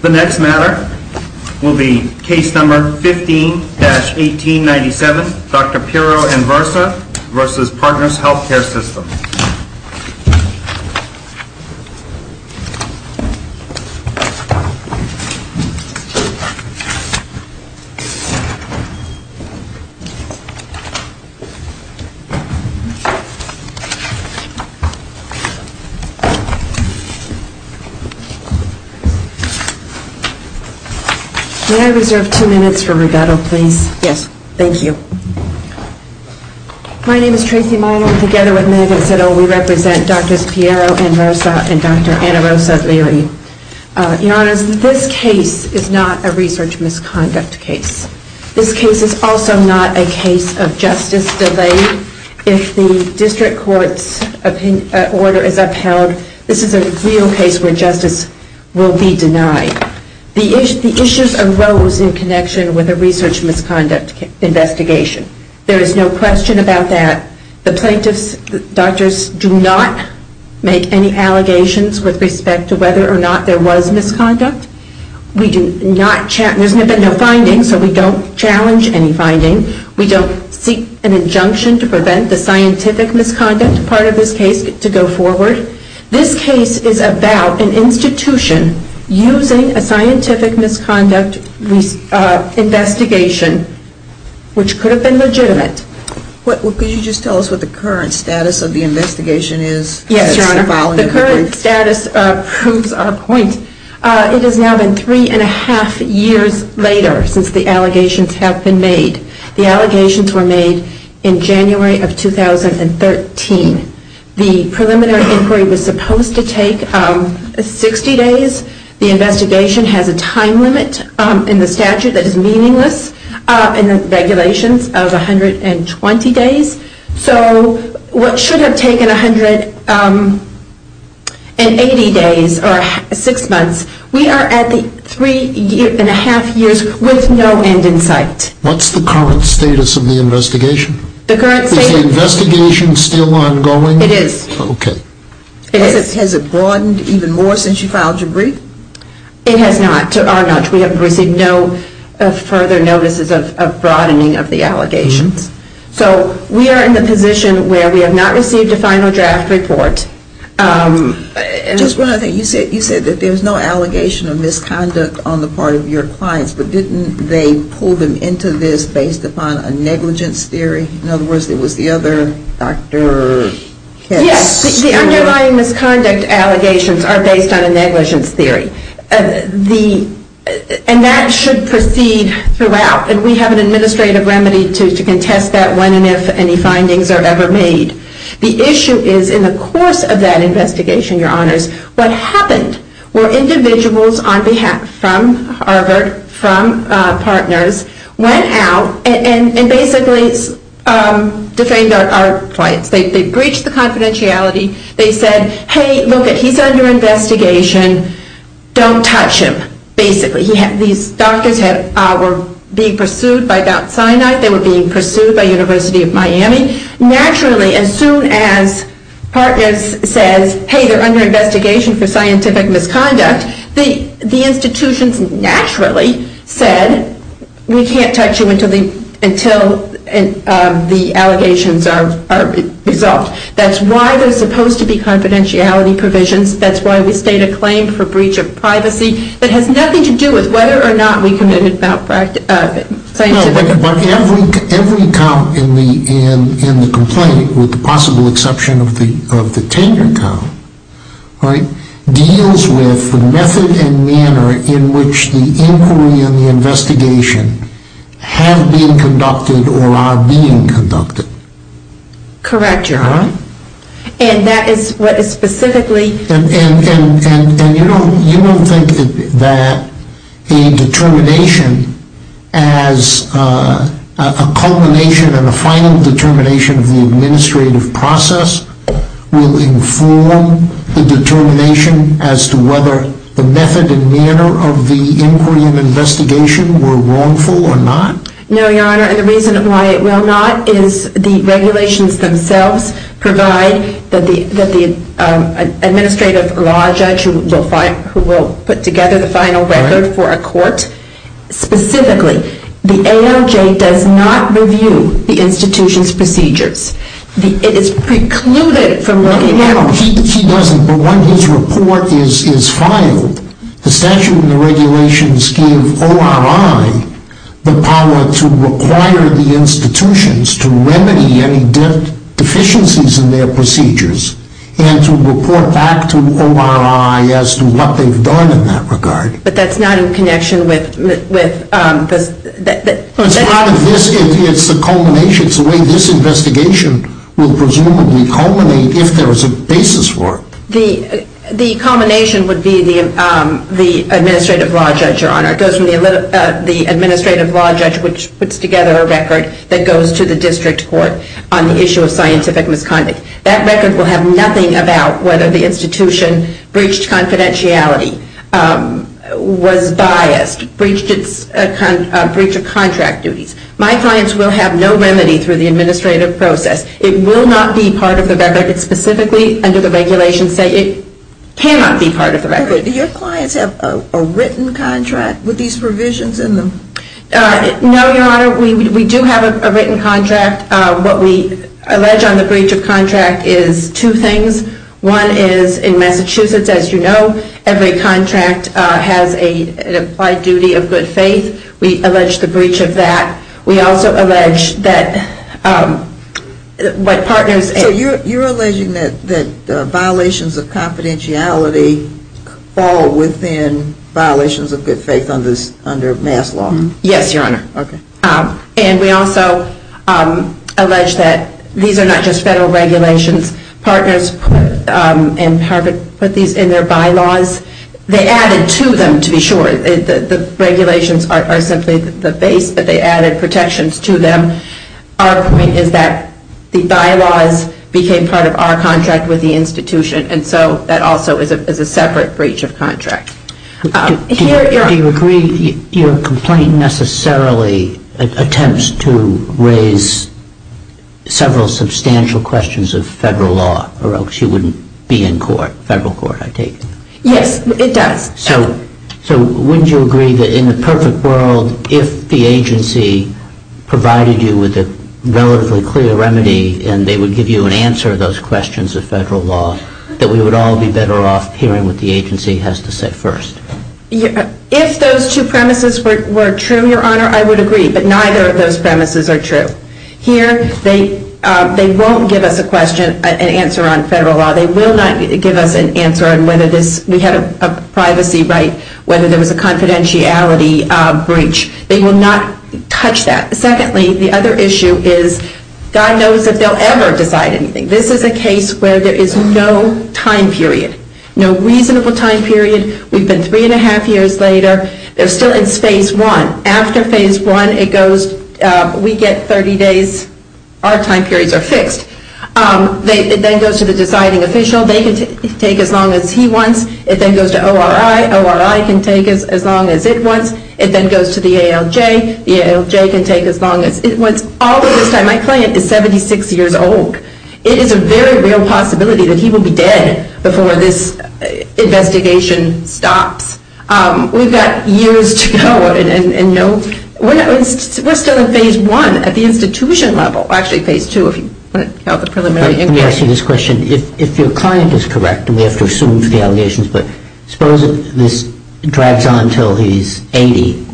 The next matter will be Case No. 15-1897, Dr. Piro Anversa v. Partners Healthcare System. May I reserve two minutes for rebuttal please? Yes. Thank you. My name is Tracy Meyer and together with Megan Sittle we represent Drs. Piro Anversa and Dr. Anversa-Leary. Your Honors, this case is not a research misconduct case. This case is also not a case of justice delay. If the District Court's order is upheld, we will be denied. This is a real case where justice will be denied. The issues arose in connection with a research misconduct investigation. There is no question about that. The plaintiffs and doctors do not make any allegations with respect to whether or not there was misconduct. We do not challenge any findings. We don't seek an injunction to prevent the scientific misconduct part of this case to go forward. This case is about an institution using a scientific misconduct investigation which could have been legitimate. Could you just tell us what the current status of the investigation is? Yes, Your Honor. The current status proves our point. It has now been three and a half years later since the allegations have been made. The allegations were made in January of 2013. The preliminary inquiry was supposed to take 60 days. The investigation has a time limit in the statute that is meaningless in the regulations of 120 days. So what should have taken 180 days or six months, we are at three and a half years with no end in sight. What's the current status of the investigation? Is the investigation still ongoing? It is. Okay. Has it broadened even more since you filed your brief? It has not, or not. We have received no further notices of broadening of the allegations. So we are in the position where we have not received a final draft report. Just one other thing. You said that there is no allegation of misconduct on the part of your clients, but didn't they pull them into this based upon a negligence theory? In other words, it was the other Dr. Kessler? Yes, the underlying misconduct allegations are based on a negligence theory. And that should proceed throughout. And we have an administrative remedy to contest that when and if any findings are ever made. The issue is in the course of that investigation, Your partner went out and basically defamed our clients. They breached the confidentiality. They said, hey, look, he is under investigation. Don't touch him, basically. These doctors were being pursued by Mount Sinai. They were being pursued by the University of Miami. Naturally, as soon as partners says, hey, they are under investigation for scientific misconduct, the institutions naturally said, we can't touch you until the allegations are resolved. That's why there is supposed to be confidentiality provisions. That's why we state a claim for breach of privacy that has nothing to do with whether or not we committed a scientific misconduct. Every account in the complaint, with the possible exception of the tenure account, deals with the method and manner in which the inquiry and the investigation have been conducted or are being conducted. Correct, Your Honor. And that is what is specifically And you don't think that a determination as a culmination and a final determination of the administrative process will inform the determination as to whether the method and manner of the inquiry and investigation were wrongful or not? No, Your Honor, and the reason why it will not is the regulations themselves provide that the administrative law judge who will put together the final record for a court. Specifically, the ALJ does not review the institution's procedures. It is precluded from looking at... No, he doesn't, but when his report is filed, the statute and the regulations give ORI the power to require the institutions to remedy any deficiencies in their procedures and to report back to ORI as to what they've done in that regard. But that's not in connection with... It's part of this. It's the culmination. It's the way this investigation will presumably culminate if there is a basis for it. The culmination would be the administrative law judge, Your Honor. It goes from the administrative law judge, which puts together a record that goes to the district court on the issue of scientific misconduct. That record will have nothing about whether the institution breached confidentiality, was biased, breached its breach of contract duties. My clients will have no remedy through the administrative process. It will not be part of the record. It's specifically under the regulations that it cannot be part of the record. Do your clients have a written contract with these provisions in them? No, Your Honor, we do have a written contract. What we allege on the breach of contract is two things. One is in Massachusetts, as you know, every contract has an applied duty of good faith. We allege the breach of that. We also allege that what partners... So you're alleging that violations of confidentiality fall within violations of good faith under MAS law? Yes, Your Honor. And we also allege that these are not just federal regulations. Partners and Harvard put these in their bylaws. They added to them, to be sure. The regulations are simply the base, but they added protections to them. Our point is that the bylaws became part of our contract with the institution, and so that also is a separate breach of contract. Do you agree your complaint necessarily attempts to raise several substantial questions of federal law or else you wouldn't be in federal court, I take it? Yes, it does. So wouldn't you agree that in the perfect world, if the agency provided you with a relatively clear remedy and they would give you an answer to those questions of federal law, that we would all be better off hearing what the agency has to say first? If those two premises were true, Your Honor, I would agree. But neither of those premises are true. Here, they won't give us an answer on federal law. They will not give us an answer on whether we had a privacy right, whether there was a confidentiality breach. They will not touch that. Secondly, the other issue is God knows if they'll ever decide anything. This is a case where there is no time period, no reasonable time period. We've been three and a half years later. They're still in phase one. After phase one, it goes, we get 30 days. Our time periods are fixed. It then goes to the deciding official. They can take as long as he wants. It then goes to ORI. ORI can take as long as it wants. It then goes to the ALJ. The ALJ can take as long as it wants. All of this time, my client is 76 years old. It is a very real possibility that he will be dead before this investigation stops. We've got years to go. We're still in phase one at the institution level. Actually, phase two, if you want to count the preliminary inquiry. Let me ask you this question. If your client is correct, and we have to assume for the allegations, suppose this drags on until he's 80,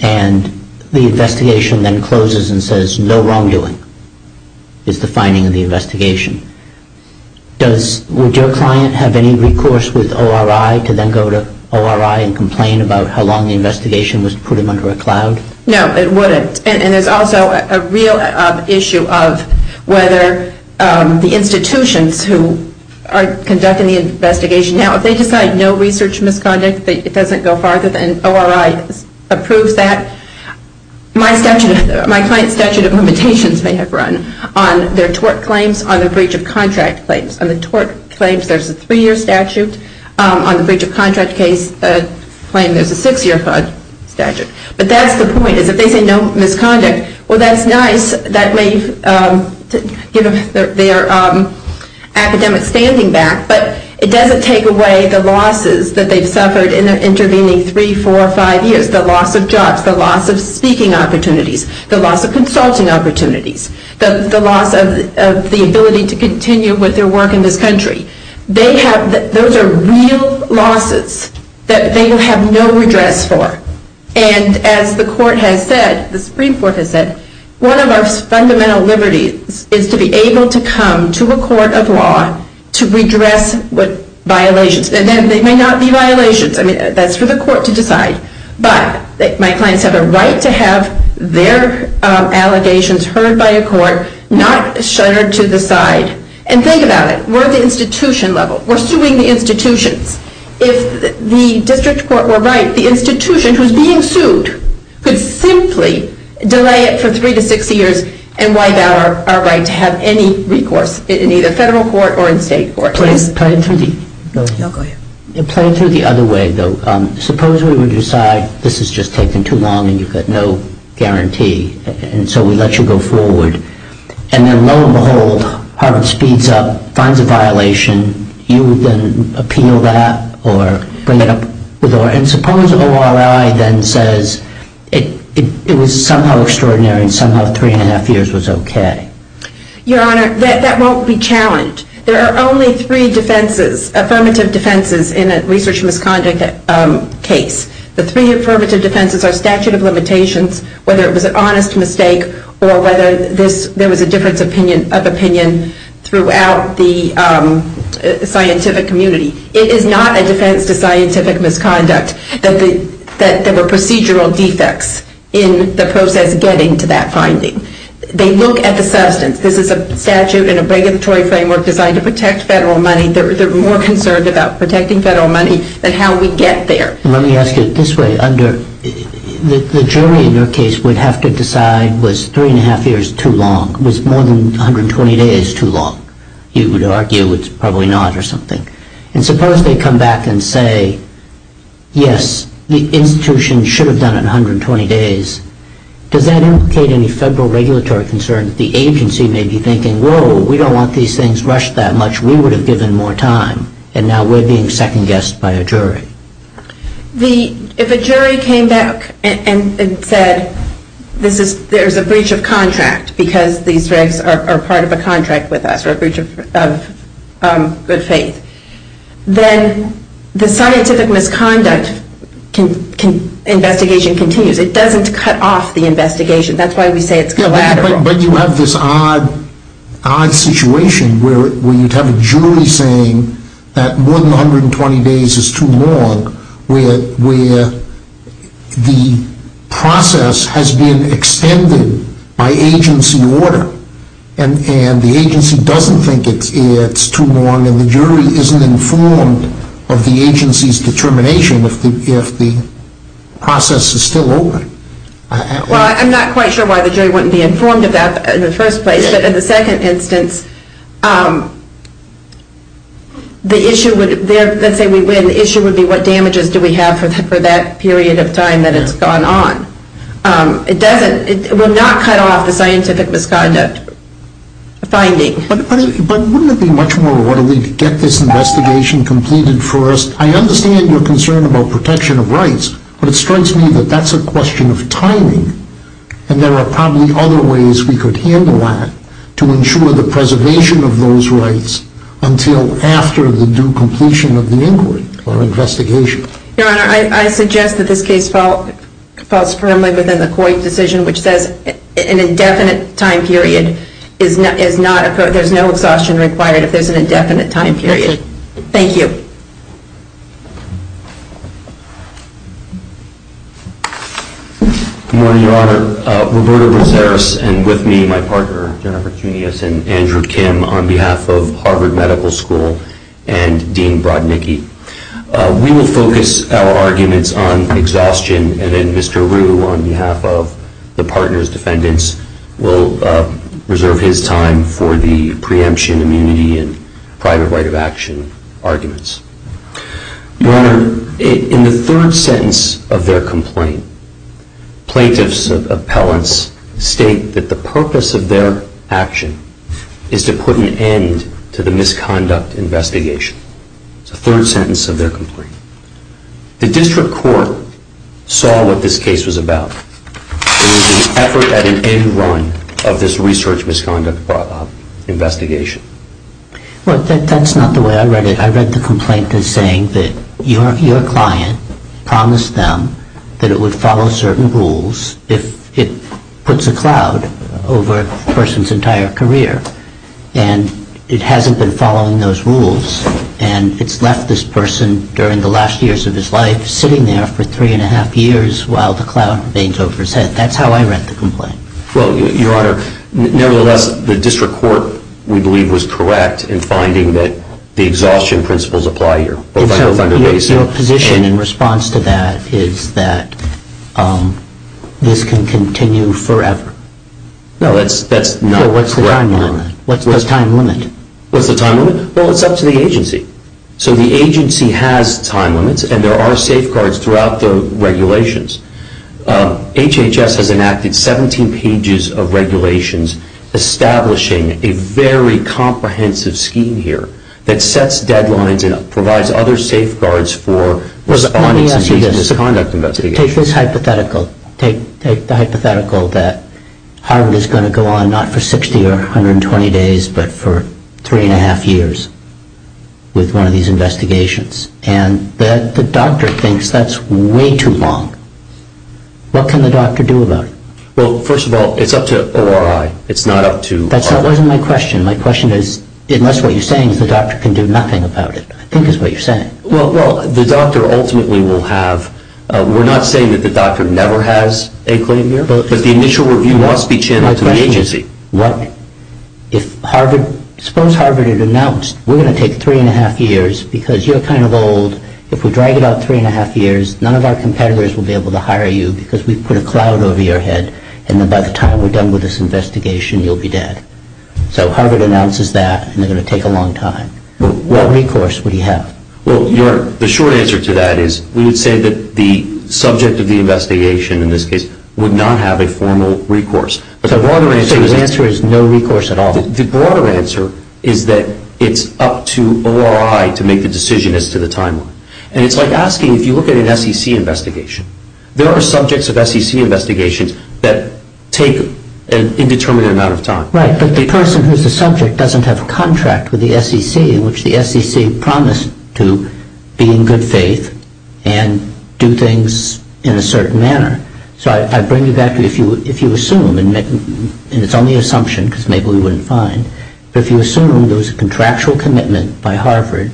and the investigation then closes and says, no wrongdoing is the finding of the investigation. Would your client have any recourse with ORI to then go to ORI and complain about how long the investigation was to put him under a cloud? No, it wouldn't. And there's also a real issue of whether the institutions who are conducting the investigation now, if they decide no research misconduct, it doesn't go farther than ORI approves that. My client's statute of limitations may have run on their tort claims, on the breach of contract claims. On the tort claims, there's a three-year statute. On the breach of contract claim, there's a six-year statute. But that's the point, is if they say no misconduct, well, that's nice. That may give them their academic standing back. But it doesn't take away the losses that they've suffered in their intervening three, four, or five years, the loss of jobs, the loss of speaking opportunities, the loss of consulting opportunities, the loss of the ability to continue with their work in this country. Those are real losses that they will have no redress for. And as the Supreme Court has said, one of our fundamental liberties is to be able to come to a court of law to redress violations. And they may not be violations. I mean, that's for the court to decide. But my clients have a right to have their allegations heard by a court, not shuttered to the side. And think about it. We're at the institution level. We're suing the institutions. If the district court were right, the institution who's being sued could simply delay it for three to six years and wipe out our right to have any recourse in either federal court or in state court. Planned through the other way, though. Suppose we would decide this has just taken too long and you've got no guarantee. And so we let you go forward. And then lo and behold, Harvard speeds up, finds a violation. You then appeal that or bring it up with ORI. And suppose ORI then says it was somehow extraordinary and somehow three and a half years was OK. Your Honor, that won't be challenged. There are only three defenses, affirmative defenses, in a research misconduct case. The three affirmative defenses are statute of limitations, whether it was an honest mistake or whether there was a difference of opinion throughout the scientific community. It is not a defense to scientific misconduct that there were procedural defects in the process getting to that finding. They look at the substance. This is a statute and a regulatory framework designed to protect federal money. They're more concerned about protecting federal money than how we get there. Let me ask you this way. The jury in your case would have to decide was three and a half years too long. Was more than 120 days too long? You would argue it's probably not or something. And suppose they come back and say, yes, the institution should have done it in 120 days. Does that implicate any federal regulatory concern that the agency may be thinking, whoa, we don't want these things rushed that much. We would have given more time. And now we're being second-guessed by a jury. If a jury came back and said there's a breach of contract because these regs are part of a contract with us, a breach of good faith, then the scientific misconduct investigation continues. It doesn't cut off the investigation. That's why we say it's collateral. But you have this odd situation where you'd have a jury saying that more than 120 days is too long where the process has been extended by agency order. And the agency doesn't think it's too long. And the jury isn't informed of the agency's determination if the process is still over. Well, I'm not quite sure why the jury wouldn't be informed of that in the first place. But in the second instance, the issue would, let's say we win, the issue would be what damages do we have for that period of time that it's gone on. It doesn't, it would not cut off the scientific misconduct finding. But wouldn't it be much more orderly to get this investigation completed first? I understand your concern about protection of rights. But it strikes me that that's a question of timing. And there are probably other ways we could handle that to ensure the preservation of those rights until after the due completion of the inquiry or investigation. Your Honor, I suggest that this case falls firmly within the Coit decision, which says an indefinite time period is not, there's no exhaustion required if there's an indefinite time period. Thank you. Good morning, Your Honor. Roberto Rosaris and with me, my partner, Jennifer Junius and Andrew Kim on behalf of Harvard Medical School and Dean Broadnicki. We will focus our arguments on exhaustion. And then Mr. Rue on behalf of the partner's defendants will reserve his time for the preemption, immunity and private right of action arguments. Your Honor, in the third sentence of their complaint, plaintiffs' appellants state that the purpose of their action is to put an end to the misconduct investigation. It's the third sentence of their complaint. The district court saw what this case was about. It was an effort at an end run of this research misconduct investigation. Well, that's not the way I read it. I read the complaint as saying that your client promised them that it would follow certain rules if it puts a cloud over a person's entire career. And it hasn't been following those rules. And it's left this person during the last years of his life sitting there for three and a half years while the cloud bangs over his head. That's how I read the complaint. Well, Your Honor, nevertheless, the district court, we believe, was correct in finding that the exhaustion principles apply here. Your position in response to that is that this can continue forever. No, that's not correct, Your Honor. Well, what's the time limit? What's the time limit? Well, it's up to the agency. So the agency has time limits and there are safeguards throughout the regulations. HHS has enacted 17 pages of regulations establishing a very comprehensive scheme here that sets deadlines and provides other safeguards for misconduct investigations. Take this hypothetical. Take the hypothetical that Harvard is going to go on not for 60 or 120 days but for three and a half years with one of these investigations. And the doctor thinks that's way too long. What can the doctor do about it? Well, first of all, it's up to ORI. It's not up to... That wasn't my question. My question is, unless what you're saying is the doctor can do nothing about it, I think is what you're saying. Well, the doctor ultimately will have... We're not saying that the doctor never has a claim here but the initial review must be channeled to the agency. My question is what if Harvard... Suppose Harvard had announced, we're going to take three and a half years because you're kind of old. If we drag it out three and a half years, none of our competitors will be able to hire you because we put a cloud over your head and then by the time we're done with this investigation, you'll be dead. So Harvard announces that and they're going to take a long time. What recourse would he have? Well, the short answer to that is we would say that the subject of the investigation in this case would not have a formal recourse. So the answer is no recourse at all? The broader answer is that it's up to ORI to make the decision as to the timeline. And it's like asking, if you look at an SEC investigation, there are subjects of SEC investigations that take an indeterminate amount of time. Right, but the person who's the subject doesn't have a contract with the SEC in which the SEC promised to be in good faith and do things in a certain manner. So I bring you back to if you assume, and it's only an assumption because maybe we wouldn't find, but if you assume there was a contractual commitment by Harvard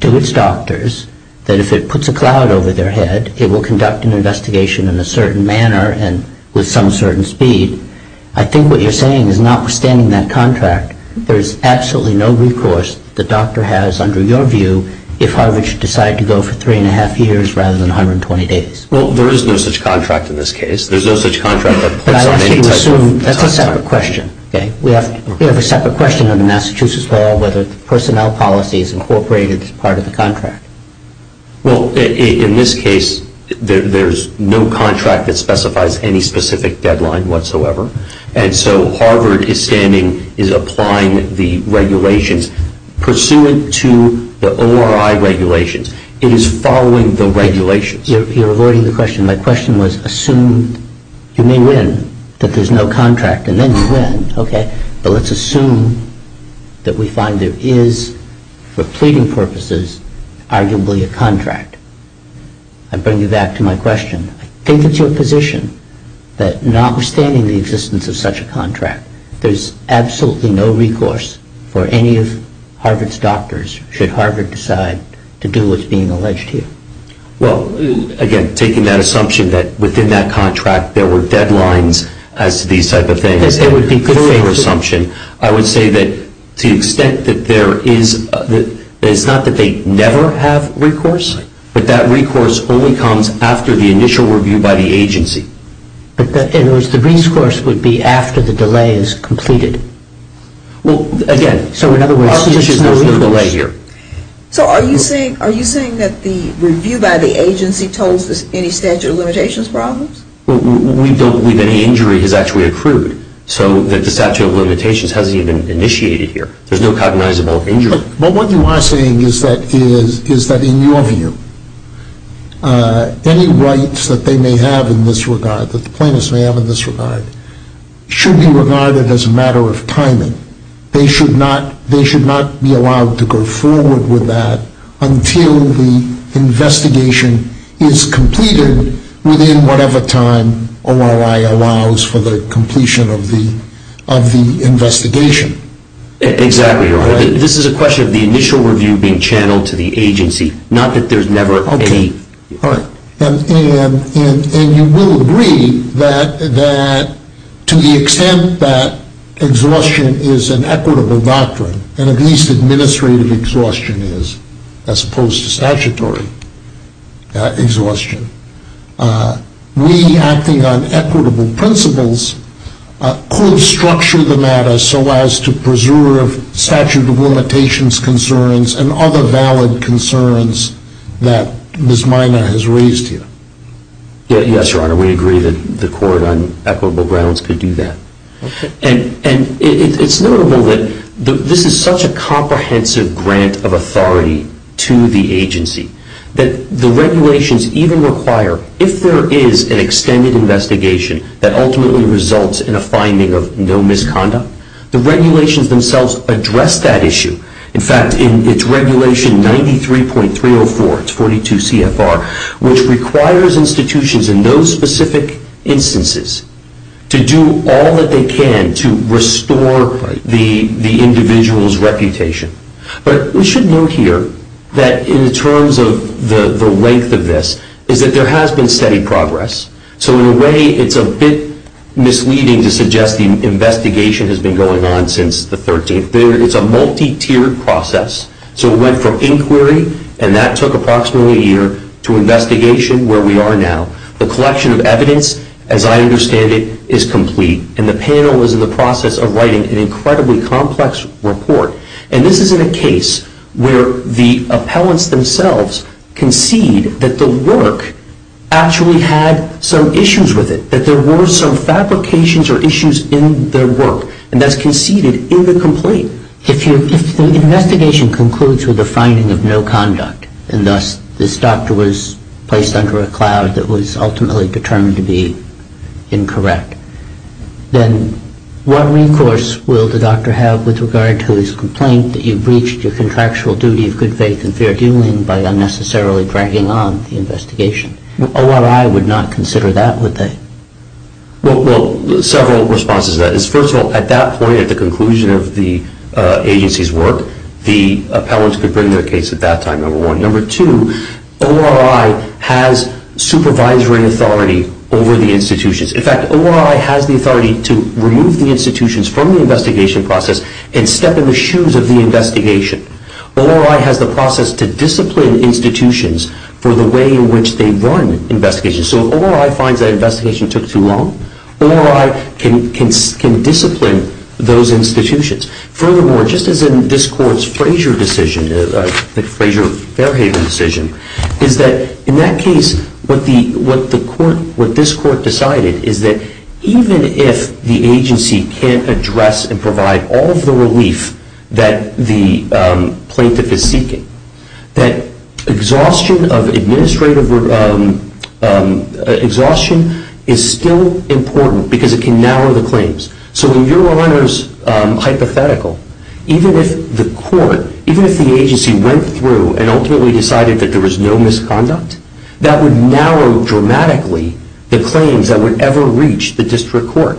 to its doctors that if it puts a cloud over their head, it will conduct an investigation in a certain manner and with some certain speed, I think what you're saying is notwithstanding that there is no recourse, the doctor has, under your view, if Harvard should decide to go for three and a half years rather than 120 days. Well, there is no such contract in this case. There's no such contract that puts up any type of timeline. But I want you to assume, that's a separate question, okay? We have a separate question under Massachusetts law whether the personnel policy is incorporated as part of the contract. Well, in this case, there's no contract that specifies any specific deadline whatsoever. And so Harvard is standing, is applying the regulations pursuant to the ORI regulations. It is following the regulations. You're avoiding the question. My question was assume, you may win, that there's no contract and then you win, okay? But let's assume that we find there is, for pleading purposes, arguably a contract. I bring you back to my question. I think that's your position that notwithstanding the existence of such a contract, there's absolutely no recourse for any of Harvard's doctors should Harvard decide to do what's being alleged here. Well, again, taking that assumption that within that contract, there were deadlines as to these type of things, it would be a clear assumption. I would say that to the extent that there is, it's not that they never have recourse, but that recourse only comes after the initial review by the agency. In other words, the recourse would be after the delay is completed. Well, again, so in other words, there's no delay here. So are you saying that the review by the agency totals any statute of limitations problems? We don't believe any injury has actually accrued. So the statute of limitations hasn't even initiated here. There's no cognizable injury. But what you are saying is that in your view, any rights that they may have in this regard, that the plaintiffs may have in this regard, should be regarded as a matter of timing. They should not be allowed to go forward with that until the investigation is completed within whatever time ORI allows for the completion of the investigation. Exactly. This is a question of the initial review being channeled to the agency, not that there's never any. All right. And you will agree that to the extent that exhaustion is an equitable doctrine, and at least administrative exhaustion is, as opposed to statutory exhaustion, we acting on equitable principles could structure the matter so as to preserve statute of limitations concerns and other valid concerns that Ms. Miner has raised here? Yes, Your Honor. We agree that the court on equitable grounds could do that. And it's notable that this is such a comprehensive grant of authority to the agency that the regulations even require, if there is an extended investigation that ultimately results in a finding of no misconduct, the regulations themselves address that issue. In fact, in its regulation 93.304, it's 42 CFR, which requires institutions in those specific instances to do all that they can to restore the individual's reputation. But we should note here that in terms of the length of this is that there has been steady progress, so in a way it's a bit misleading to suggest the investigation has been going on since the 13th. It's a multi-tiered process, so it went from inquiry, and that took approximately a year, to investigation where we are now. The collection of evidence, as I understand it, is complete, and the panel is in the process of writing an incredibly complex report. And this is in a case where the appellants themselves concede that the work actually had some issues with it, that there were some fabrications or issues in their work, and that's conceded in the complaint. If the investigation concludes with a finding of no conduct and thus this doctor was placed under a cloud that was ultimately determined to be incorrect, then what recourse will the doctor have with regard to his complaint that you breached your contractual duty of good faith and fair dealing by unnecessarily dragging on the investigation? ORI would not consider that, would they? Well, several responses to that. First of all, at that point, at the conclusion of the agency's work, the appellants could bring their case at that time, number one. Number two, ORI has supervisory authority over the institutions. In fact, ORI has the authority to remove the institutions from the investigation process and step in the shoes of the investigation. ORI has the process to discipline institutions for the way in which they run investigations. So if ORI finds that investigation took too long, ORI can discipline those institutions. Furthermore, just as in this court's Frazier decision, the Frazier-Fairhaven decision, is that in that case, what this court decided is that even if the agency can't address and provide all of the relief that the plaintiff is seeking, that exhaustion of administrative exhaustion is still important because it can narrow the claims. So in your honor's hypothetical, even if the court, even if the agency went through and ultimately decided that there was no misconduct, that would narrow dramatically the claims that would ever reach the district court.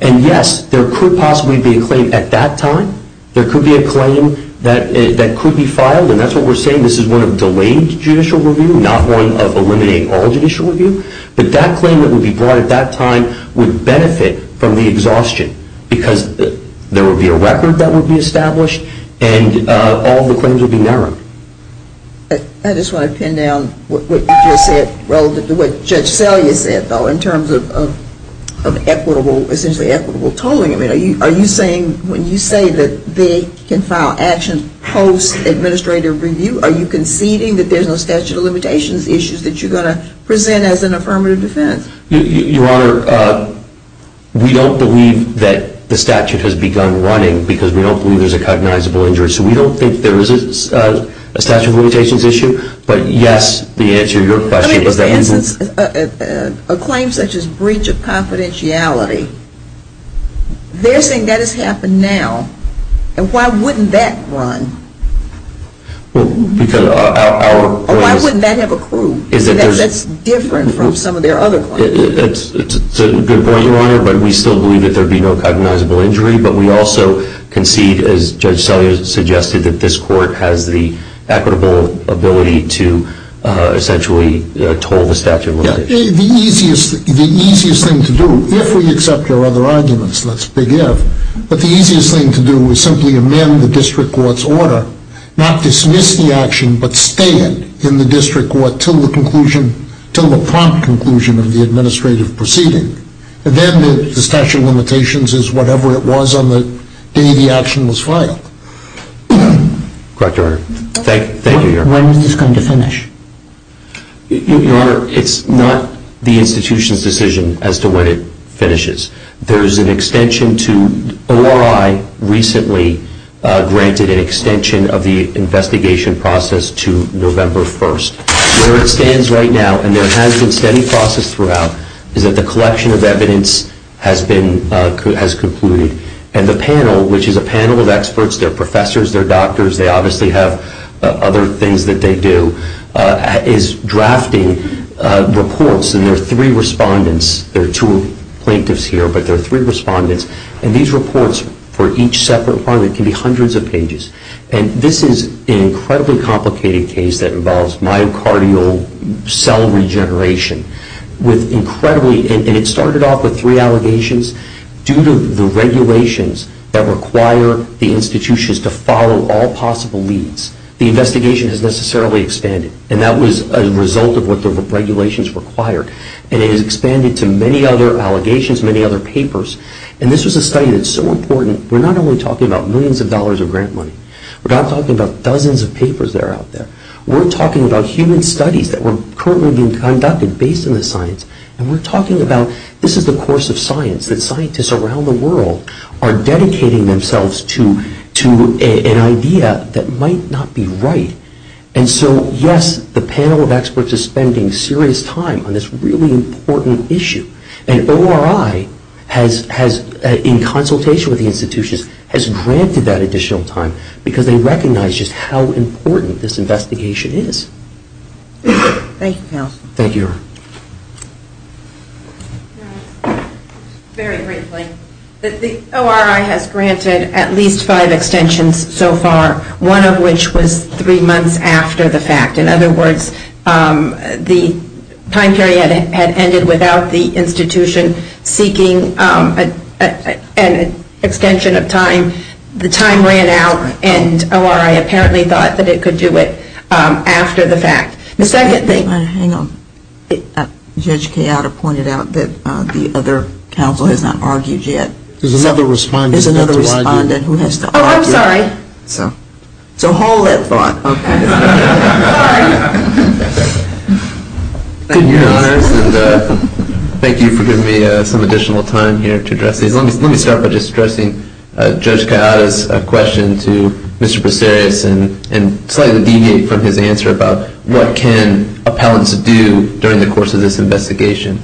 And yes, there could possibly be a claim at that time. There could be a claim that could be filed, and that's what we're saying. This is one of delayed judicial review, not one of eliminate all judicial review. But that claim that would be brought at that time would benefit from the exhaustion because there would be a record that would be established, and all the claims would be narrowed. I just want to pin down what you just said relative to what Judge Selye said, though, in terms of equitable, essentially equitable tolling. I mean, are you saying when you say that they can file actions post-administrative review, are you conceding that there's no statute of limitations issues that you're going to present as an affirmative defense? Your Honor, we don't believe that the statute has begun running because we don't believe there's a cognizable injury. So we don't think there is a statute of limitations issue. But yes, the answer to your question was that we would I mean, for instance, a claim such as breach of confidentiality, they're saying that has happened now. And why wouldn't that run? Well, because our Or why wouldn't that have accrued? That's different from some of their other claims. That's a good point, Your Honor. But we still believe that there would be no cognizable injury. But we also concede, as Judge Selye suggested, that this court has the equitable ability to essentially toll the statute of limitations. The easiest thing to do, if we accept your other arguments, let's begin, but the easiest thing to do is simply amend the district court's order, not dismiss the action, but stay it in the district court until the prompt conclusion of the administrative proceeding. Then the statute of limitations is whatever it was on the day the action was filed. Correct, Your Honor. Thank you, Your Honor. When is this going to finish? Your Honor, it's not the institution's decision as to when it finishes. There's an extension to ORI recently granted an extension of the investigation process to November 1st. Where it stands right now, and there has been steady process throughout, is that the collection of evidence has concluded. And the panel, which is a panel of experts, they're professors, they're doctors, they obviously have other things that they do, is drafting reports. And there are three respondents. There are two plaintiffs here, but there are three respondents. And these reports, for each separate one, it can be hundreds of pages. And this is an incredibly complicated case that involves myocardial cell regeneration. With incredibly, and it started off with three allegations. Due to the regulations that require the institutions to follow all possible leads, the investigation has necessarily expanded. And that was a result of what the regulations required. And it has expanded to many other allegations, many other papers. And this was a study that's so important. We're not only talking about millions of dollars of grant money. We're not talking about dozens of papers that are out there. We're talking about human studies that were currently being conducted based on the science. And we're talking about, this is the course of science that scientists around the world are dedicating themselves to an idea that might not be right. And so, yes, the panel of experts is spending serious time on this really important issue. And ORI has, in consultation with the institutions, has granted that additional time because they recognize just how important this investigation is. Thank you. Thank you. Very briefly. The ORI has granted at least five extensions so far, one of which was three months after the fact. In other words, the time period had ended without the institution seeking an extension of time. The time ran out. And ORI apparently thought that it could do it after the fact. The second thing. Hang on. Judge Kayata pointed out that the other counsel has not argued yet. There's another respondent. There's another respondent who has to argue. Oh, I'm sorry. So hold that thought. Okay. Sorry. Thank you, Your Honors. And thank you for giving me some additional time here to address these. Let me start by just addressing Judge Kayata's question to Mr. Brasserias and slightly deviate from his answer about what can appellants do during the course of this investigation.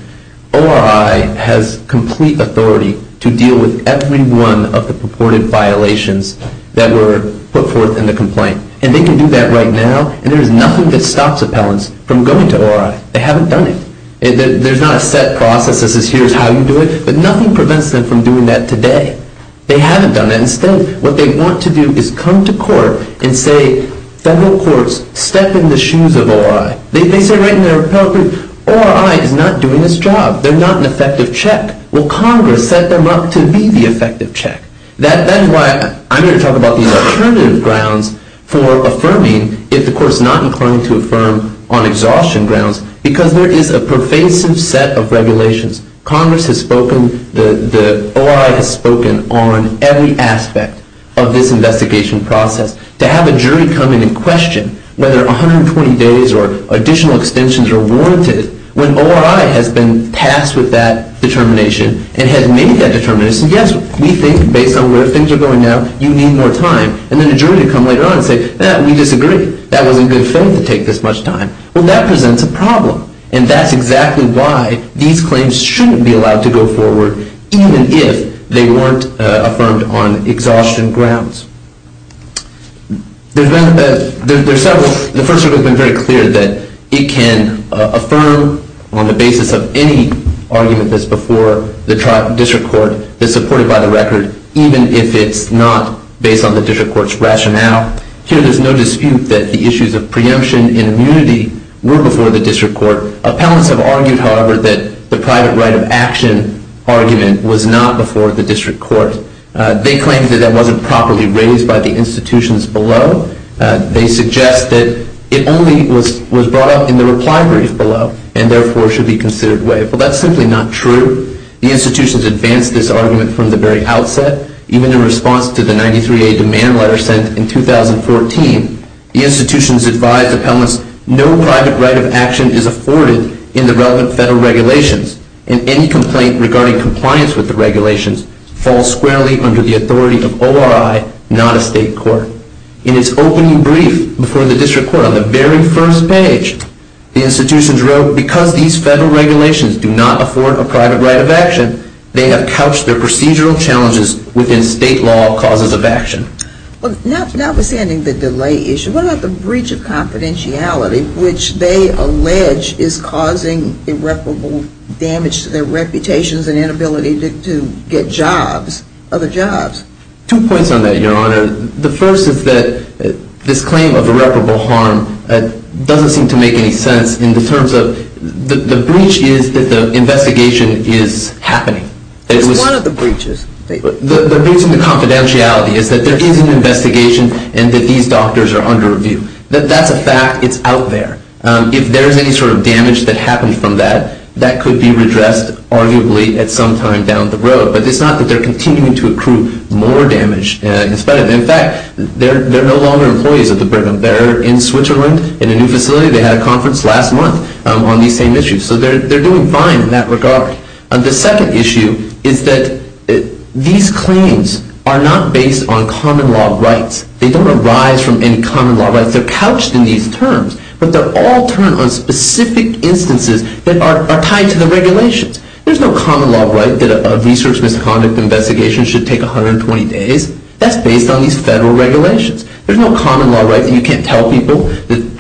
ORI has complete authority to deal with every one of the purported violations that were put forth in the complaint. And they can do that right now. And there's nothing that stops appellants from going to ORI. They haven't done it. There's not a set process that says here's how you do it. But nothing prevents them from doing that today. They haven't done it. Instead, what they want to do is come to court and say, federal courts, step in the shoes of ORI. They say right in their appellate group, ORI is not doing its job. They're not an effective check. Well, Congress set them up to be the effective check. That is why I'm going to talk about these alternative grounds for affirming if the court is not inclined to affirm on exhaustion grounds. Because there is a pervasive set of regulations. Congress has spoken, the ORI has spoken on every aspect of this investigation process. To have a jury come in and question whether 120 days or additional extensions are warranted, when ORI has been tasked with that determination and has made that determination, yes, we think based on where things are going now, you need more time. And then a jury would come later on and say, we disagree. That wasn't good faith to take this much time. Well, that presents a problem. And that's exactly why these claims shouldn't be allowed to go forward, even if they weren't affirmed on exhaustion grounds. The First Circuit has been very clear that it can affirm on the basis of any argument that's before the district court that's supported by the record, even if it's not based on the district court's rationale. Here, there's no dispute that the issues of preemption and immunity were before the district court. Appellants have argued, however, that the private right of action argument was not before the district court. They claim that that wasn't properly raised by the institutions below. They suggest that it only was brought up in the reply brief below, and therefore Well, that's simply not true. The institutions advanced this argument from the very outset, even in response to the 93A demand letter sent in 2014. The institutions advised appellants no private right of action is afforded in the relevant federal regulations. And any complaint regarding compliance with the regulations falls squarely under the authority of ORI, not a state court. In its opening brief before the district court, on the very first page, the institutions wrote, because these federal regulations do not afford a private right of action, they have couched their procedural challenges within state law causes of action. Notwithstanding the delay issue, what about the breach of confidentiality, which they allege is causing irreparable damage to their reputations and inability to get jobs, other jobs? Two points on that, Your Honor. The first is that this claim of irreparable harm doesn't seem to make any sense in the terms of the breach is that the investigation is happening. It's one of the breaches. The breach in the confidentiality is that there is an investigation and that these doctors are under review. That's a fact. It's out there. If there's any sort of damage that happened from that, that could be redressed, arguably, at some time down the road. But it's not that they're continuing to accrue more damage. In fact, they're no longer employees of the Brigham Bearer in Switzerland in a new facility. They had a conference last month on these same issues. So they're doing fine in that regard. The second issue is that these claims are not based on common law rights. They don't arise from any common law rights. They're couched in these terms. But they're all turned on specific instances that are tied to the regulations. There's no common law right that a research misconduct investigation should take 120 days. That's based on these federal regulations. There's no common law right that you can't tell people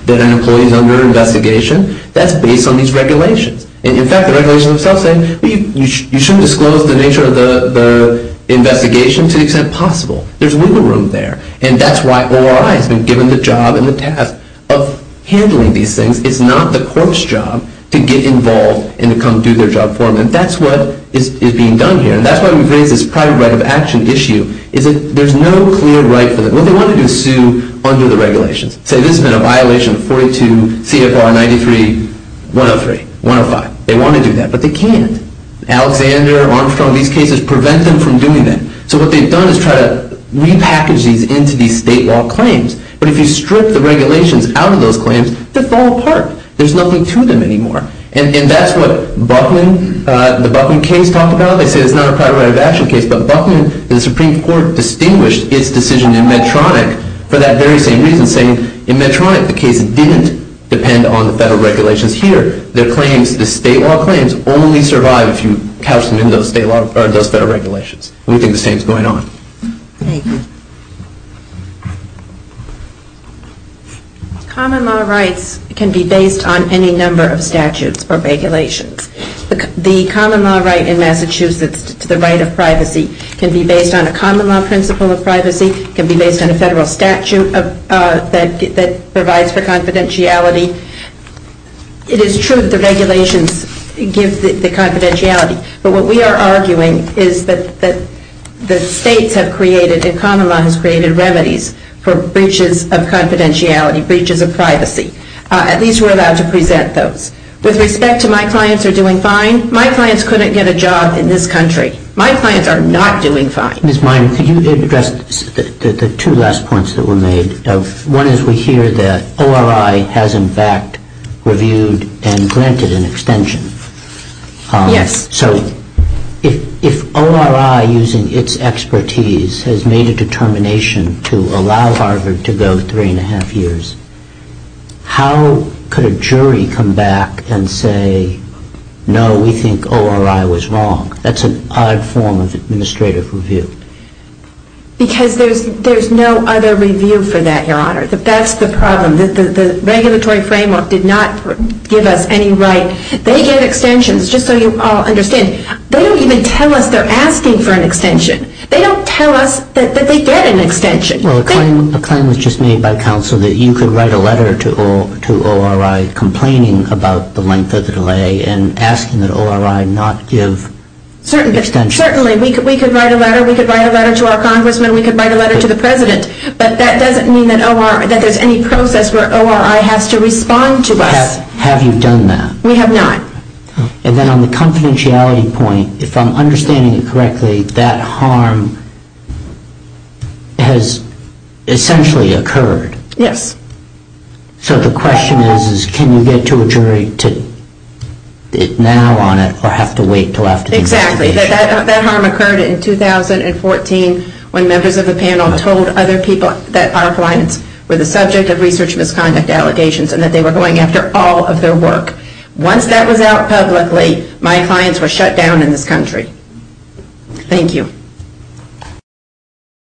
that an employee is under an investigation. That's based on these regulations. In fact, the regulations themselves say you shouldn't disclose the nature of the investigation to the extent possible. There's wiggle room there. And that's why ORI has been given the job and the task of handling these things. It's not the court's job to get involved and to come do their job for them. And that's what is being done here. And that's why we've raised this private right of action issue, is that there's no clear right for them. What they want to do is sue under the regulations. Say this has been a violation of 42 CFR 93-103. 105. They want to do that, but they can't. Alexander, Armstrong, these cases prevent them from doing that. So what they've done is try to repackage these into these state law claims. But if you strip the regulations out of those claims, they fall apart. There's nothing to them anymore. And that's what Buckman, the Buckman case talked about. They say it's not a private right of action case, but Buckman, the Supreme Court distinguished its decision in Medtronic for that very same reason, saying in Medtronic the case didn't depend on the federal regulations here. Their claims, the state law claims, only survive if you couch them in those federal regulations. And we think the same is going on. Thank you. Common law rights can be based on any number of statutes or regulations. The common law right in Massachusetts to the right of privacy can be based on a common law principle of privacy, can be based on a federal statute that provides for confidentiality. It is true that the regulations give the confidentiality, but what we are arguing is that the states have created and common law has created remedies for breaches of confidentiality, breaches of privacy. At least we're allowed to present those. With respect to my clients are doing fine, my clients couldn't get a job in this country. My clients are not doing fine. Ms. Miner, could you address the two last points that were made? One is we hear that ORI has, in fact, reviewed and granted an extension. Yes. So if ORI, using its expertise, has made a determination to allow Harvard to go three and a half years, how could a jury come back and say, no, we think ORI was wrong? That's an odd form of administrative review. Because there's no other review for that, Your Honor. That's the problem. The regulatory framework did not give us any right. They get extensions, just so you all understand. They don't even tell us they're asking for an extension. They don't tell us that they get an extension. Well, a claim was just made by counsel that you could write a letter to ORI complaining about the length of the delay and asking that ORI not give extensions. Certainly. We could write a letter. We could write a letter to our congressman. We could write a letter to the president. But that doesn't mean that there's any process where ORI has to respond to us. Have you done that? We have not. And then on the confidentiality point, if I'm understanding it correctly, that harm has essentially occurred. Yes. So the question is, is can you get to a jury now on it or have to wait until after the investigation? Exactly. That harm occurred in 2014 when members of the panel told other people that our clients were the subject of research misconduct allegations and that they were going after all of their work. Once that was out publicly, my clients were shut down in this country. Thank you.